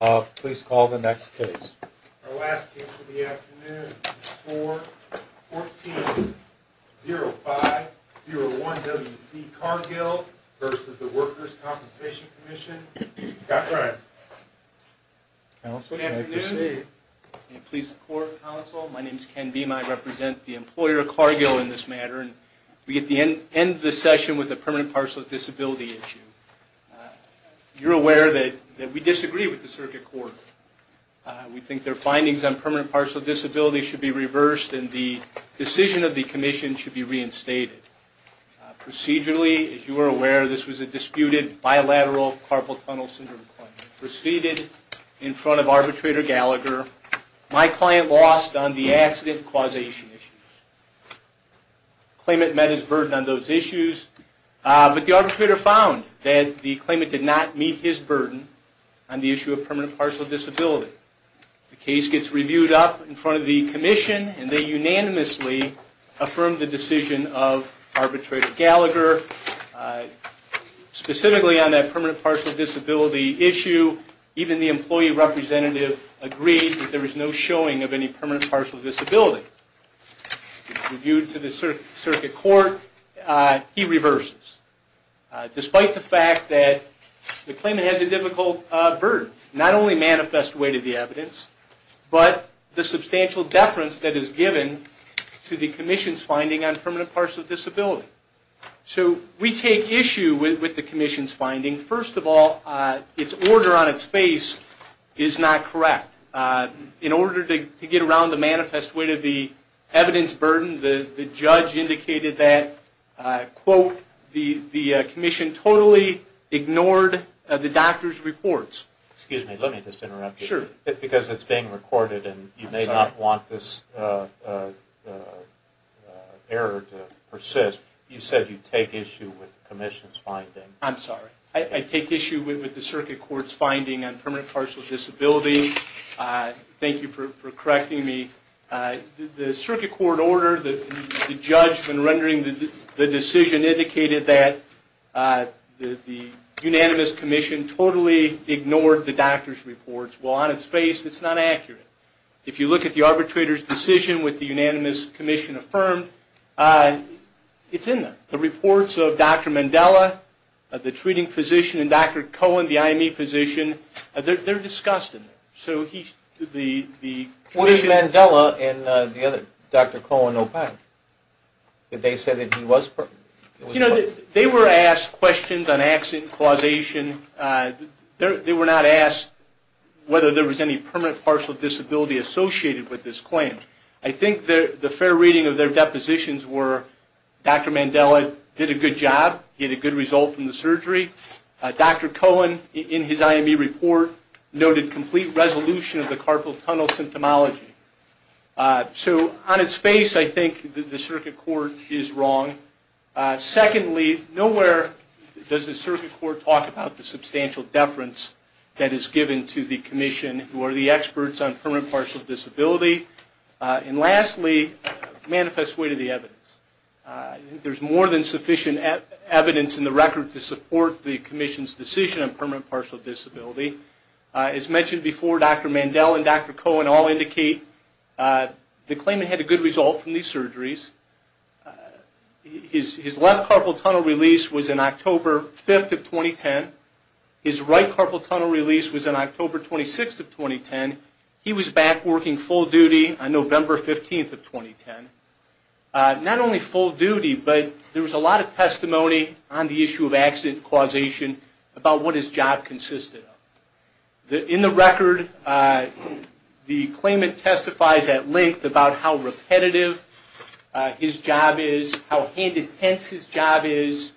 , Scott Grimes. Good afternoon. Please support the council. My name is Ken Beame. I represent the employer of Cargill in this matter. We get the end of this session with the permanent parcel disability issue. You're aware that we disagree with the circuit court. We think their findings on permanent parcel disability should be reversed and the decision of the commission should be reinstated. Procedurally, as you are aware, this was a disputed bilateral carpal tunnel syndrome claim. Proceeded in front of arbitrator Gallagher. My client lost on the accident causation issue. Claimant met his burden on those issues. But the arbitrator found that the claimant did not meet his burden on the issue of permanent parcel disability. The case gets reviewed up in front of the commission and they unanimously affirm the decision of arbitrator Gallagher. Specifically on that permanent parcel disability issue, even the employee representative agreed that there was no showing of any permanent parcel disability. Reviewed to the circuit court, he reverses. Despite the fact that the claimant has a difficult burden. Not only manifest weight of the evidence, but the substantial deference that is given to the commission's finding on permanent parcel disability. We take issue with the commission's finding. First of all, its order on its face is not correct. In order to get around the manifest weight of the evidence burden, the judge indicated that quote the commission totally ignored the doctor's reports. Excuse me, let me just interrupt you. Because it's being recorded and you may not want this error to persist. You said you take issue with the commission's finding. I take issue with the circuit court's finding on permanent parcel disability. Thank you for correcting me. The circuit court order, the judge when rendering the decision, indicated that the unanimous commission totally ignored the doctor's reports. While on its face, it's not accurate. If you look at the arbitrator's decision with the unanimous commission affirmed, it's in there. The reports of Dr. Mandela, the treating physician, and Dr. Cohen, the IME physician, they're discussed in there. What did Mandela and Dr. Cohen opine? Did they say that he was permanent? They were asked questions on accident causation. They were not asked whether there was any permanent parcel disability associated with this claim. I think the fair reading of their depositions were Dr. Mandela did a good job, he had a good result from the surgery. Dr. Cohen, in his IME report, noted complete resolution of the carpal tunnel symptomology. So on its face, I think the circuit court is wrong. Secondly, nowhere does the circuit court talk about the substantial deference that is given to the commission who are the experts on permanent parcel disability. And lastly, manifest way to the evidence. There's more than sufficient evidence in the record to support the claim. As mentioned before, Dr. Mandela and Dr. Cohen all indicate the claimant had a good result from these surgeries. His left carpal tunnel release was in October 5th of 2010. His right carpal tunnel release was in October 26th of 2010. He was back working full duty on November 15th of 2010. Not only full duty, but there was a lot of testimony on the issue of accident causation about what his job consisted of. In the record, the claimant testifies at length about how repetitive his job is, how hand intense his job is,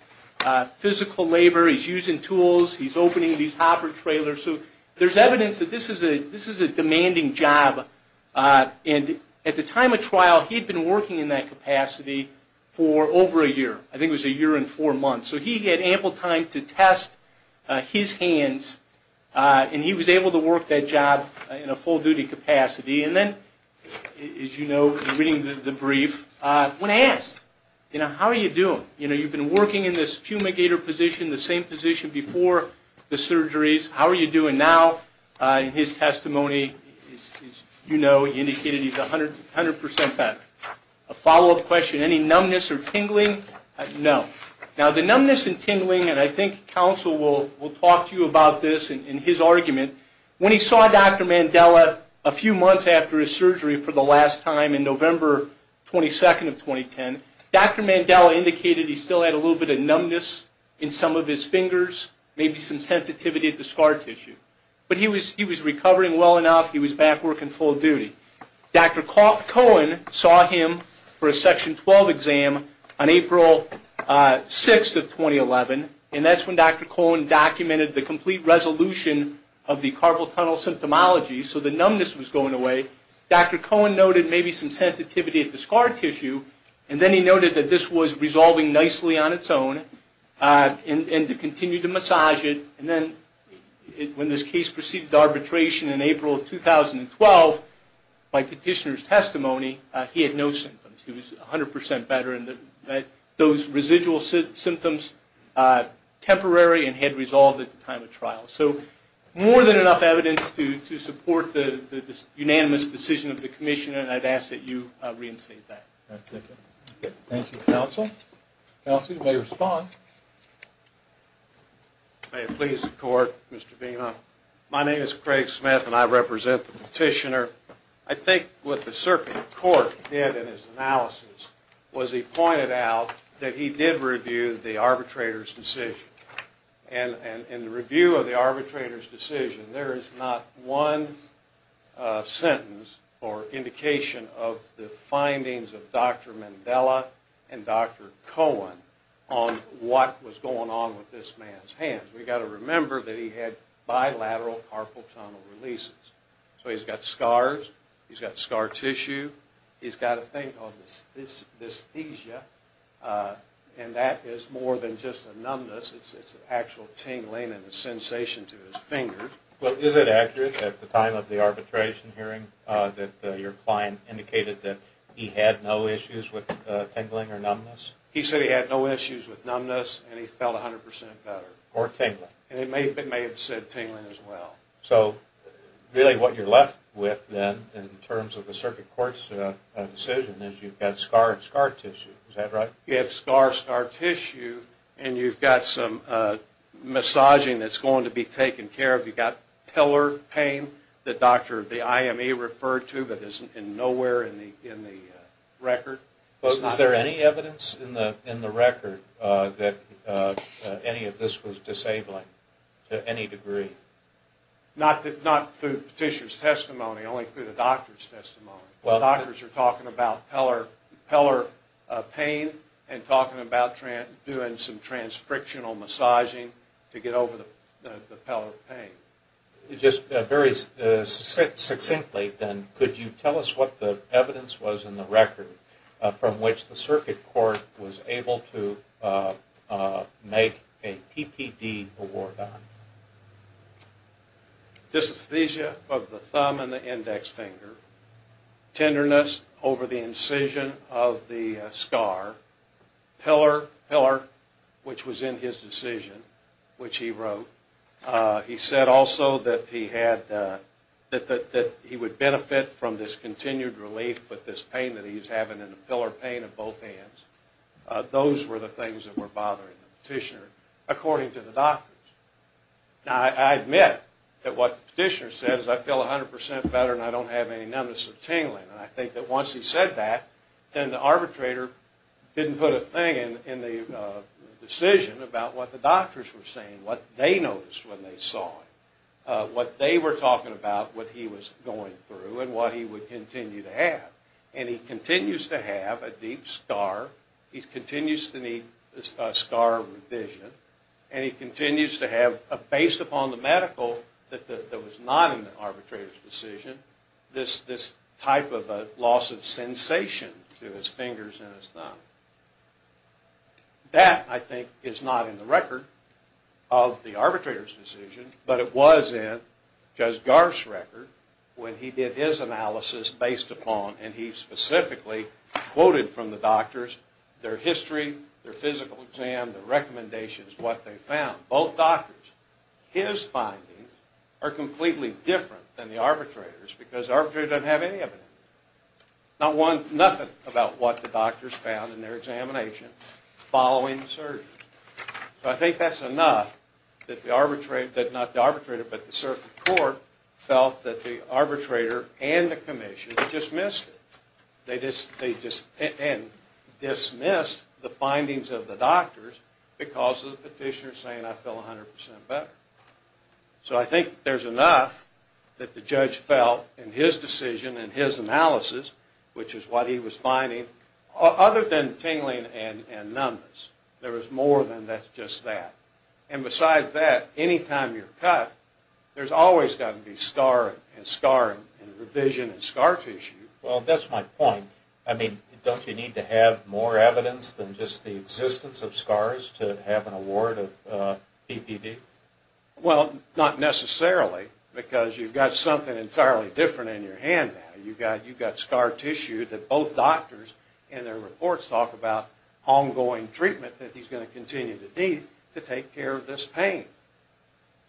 physical labor, he's using tools, he's opening these hopper trailers. There's evidence that this is a demanding job. At the time of trial, he had been working in that capacity for over a year. I think it was a year and four months. So he had ample time to test his hands and he was able to work that job in a full duty capacity. And then, as you know from reading the brief, when asked, how are you doing? You've been working in this fumigator position, the same position before the surgeries. How are you doing now? In his testimony, as you know, he indicated he's 100% better. A follow-up question, any numbness or tingling? No. Now, the numbness and tingling, and I think counsel will talk to you about this in his argument, when he saw Dr. Mandela a few months after his surgery for the last time in November 22nd of 2010, Dr. Mandela indicated he still had a little bit of numbness in some of his fingers, maybe some sensitivity to scar tissue. But he was recovering well enough, he was back working full duty. Dr. Cohen saw him for a Section 12 exam on April 6th of 2011, and that's when Dr. Cohen documented the complete resolution of the carpal tunnel symptomology, so the numbness was going away. Dr. Cohen noted maybe some sensitivity to scar tissue, and then he noted that this was resolving nicely on its own, and to continue to massage it. And then when this case proceeded arbitration in April 2012, by petitioner's testimony, he had no symptoms, he was 100% better, and those residual symptoms temporary and had resolved at the time of trial. So, more than enough evidence to support the unanimous decision of the commission, and I'd ask that you reinstate that. Thank you, counsel. Counsel, you may respond. May it please the court, Mr. Beamer. My name is Craig Smith, and I represent the petitioner. I think what the circuit court did in his analysis was he pointed out that he did review the arbitrator's decision. And in the review of the arbitrator's decision, there is not one sentence or indication of the findings of Dr. Mandela and Dr. Cohen on what was going on with this man's hands. We've got to remember that he had bilateral carpal tunnel releases. So, he's got scars, he's got scar tissue, he's got a thing called dysthesia, and that is more than just a numbness, it's an actual tingling and sensation to his fingers. Well, is it accurate at the time of the arbitration hearing that your client indicated that he had no issues with tingling or numbness? He said he had no issues with numbness, and he felt 100% better. Or tingling. And it may have said tingling as well. So, really what you're left with, then, in terms of the circuit court's decision is you've got scar and scar tissue. Is that right? You have scar and scar tissue, and you've got some massaging that's going to be taken care of. You've got pillar pain that Dr. Iame referred to, but is nowhere in the record. Well, is there any evidence in the record that any of this was disabling to any degree? Not through Petitioner's testimony, only through the doctor's testimony. The doctors are talking about pillar pain and talking about doing some transfrictional massaging to get over the pillar pain. Just very succinctly, then, could you tell us what the from which the circuit court was able to make a PPD award on? Dysesthesia of the thumb and the index finger. Tenderness over the incision of the scar. Pillar, pillar, which was in his decision, which he wrote. He said also that he had, that he would benefit from this continued relief with this pain that he's having in the pillar pain of both hands. Those were the things that were bothering the Petitioner, according to the doctors. Now, I admit that what the Petitioner says, I feel a hundred percent better and I don't have any numbness or tingling. I think that once he said that, then the arbitrator didn't put a thing in the decision about what the doctors were saying, what they noticed when they saw him, what they were talking about, what he was going through, and what he would continue to have. And he continues to have a deep scar. He continues to need a scar revision. And he continues to have, based upon the medical that was not in the arbitrator's decision, this type of a loss of sensation to his fingers and his thumb. That, I think, is not in the record of the arbitrator's decision, but it was in Judge Garf's record when he did his analysis based upon, and he specifically quoted from the doctors, their history, their physical exam, their recommendations, what they found. Both doctors, his findings are completely different than the arbitrator's because the arbitrator doesn't have any of it. Nothing about what the doctors found in their examination following the search. I think that's enough that the arbitrator, not the arbitrator, but the circuit court felt that the arbitrator and the commission dismissed it. They dismissed the findings of the doctors because of the petitioner saying, I feel 100% better. So I think there's enough that the judge felt in his decision, in his analysis, which is what he was finding, other than tingling and numbness. There was more than just that. And besides that, anytime you're cut, there's always going to be scar and scar and revision and scar tissue. Well, that's my point. Don't you need to have more evidence than just the existence of scars to have an award of PPD? Well, not necessarily because you've got something entirely different in your hand now. You've got scar tissue that both doctors in their reports talk about ongoing treatment that he's going to continue to need to take care of this pain.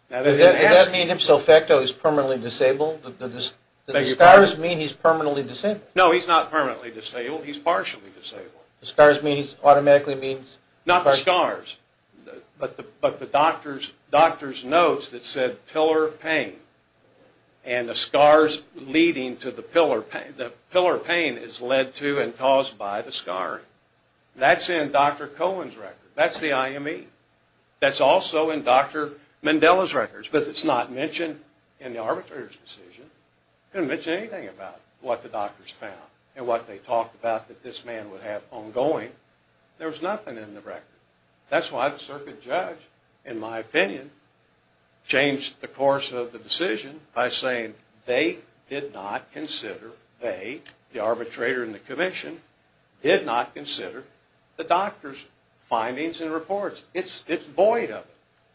Does that mean himself that he's permanently disabled? Do the scars mean he's permanently disabled? No, he's not permanently disabled. He's partially disabled. The scars mean he's automatically... Not the scars, but the doctor's notes that said, pillar pain and the scars leading to the pillar pain. The pillar pain is led to and caused by the scar. That's in Dr. Cohen's record. That's the IME. That's also in Dr. Mandela's records, but it's not mentioned in the arbitrator's decision. He didn't mention anything about what the doctors found and what they talked about that this man would have ongoing. There was nothing in the record. That's why the circuit judge, in my opinion, changed the course of the decision by saying they did not consider, they, the arbitrator and the commission, did not consider the doctor's It's void of it.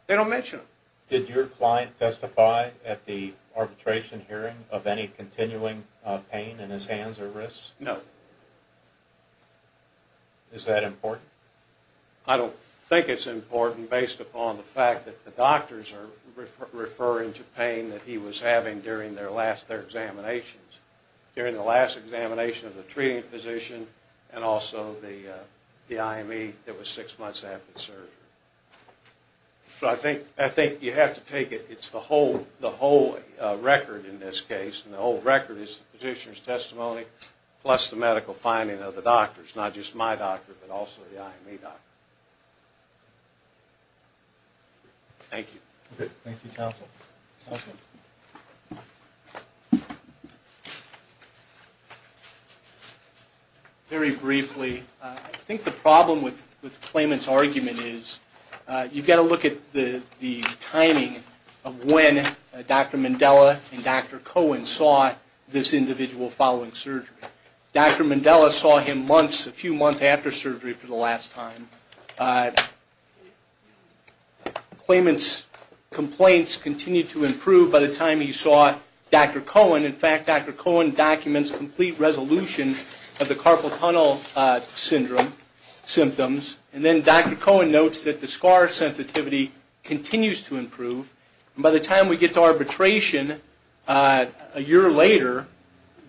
They don't mention it. Did your client testify at the arbitration hearing of any continuing pain in his hands or wrists? No. Is that important? I don't think it's important based upon the fact that the doctors are referring to pain that he was having during their last, their examinations. During the last examination of the treating physician and also the subsequent surgery. So I think you have to take it, it's the whole record in this case, and the whole record is the physician's testimony plus the medical finding of the doctors, not just my doctor, but also the IME doctor. Thank you. Very briefly, I think the problem with this claimant is, you've got to look at the timing of when Dr. Mandela and Dr. Cohen saw this individual following surgery. Dr. Mandela saw him months, a few months after surgery for the last time. Claimant's complaints continued to improve by the time he saw Dr. Cohen. In fact, Dr. Cohen documents complete resolution of the carpal tunnel syndrome symptoms. And then Dr. Cohen notes that the scar sensitivity continues to improve. By the time we get to arbitration a year later,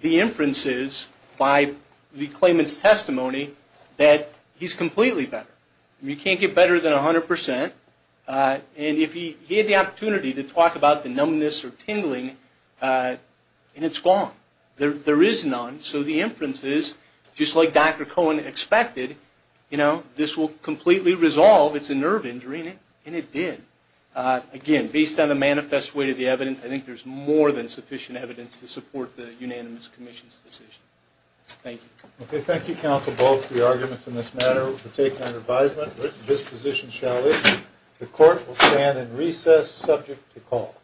the inference is, by the claimant's testimony, that he's completely better. You can't get better than a hundred percent. And if he had the opportunity to talk about the numbness or tingling, it's gone. There is none. So the inference is, just like Dr. Cohen expected, this will completely resolve, it's a nerve injury, and it did. Again, based on the manifest way of the evidence, I think there's more than sufficient evidence to support the unanimous commission's decision. Thank you. Thank you, counsel, both for your arguments in this matter. We'll take an advisement. This position shall issue. The court will stand in recess, subject to call.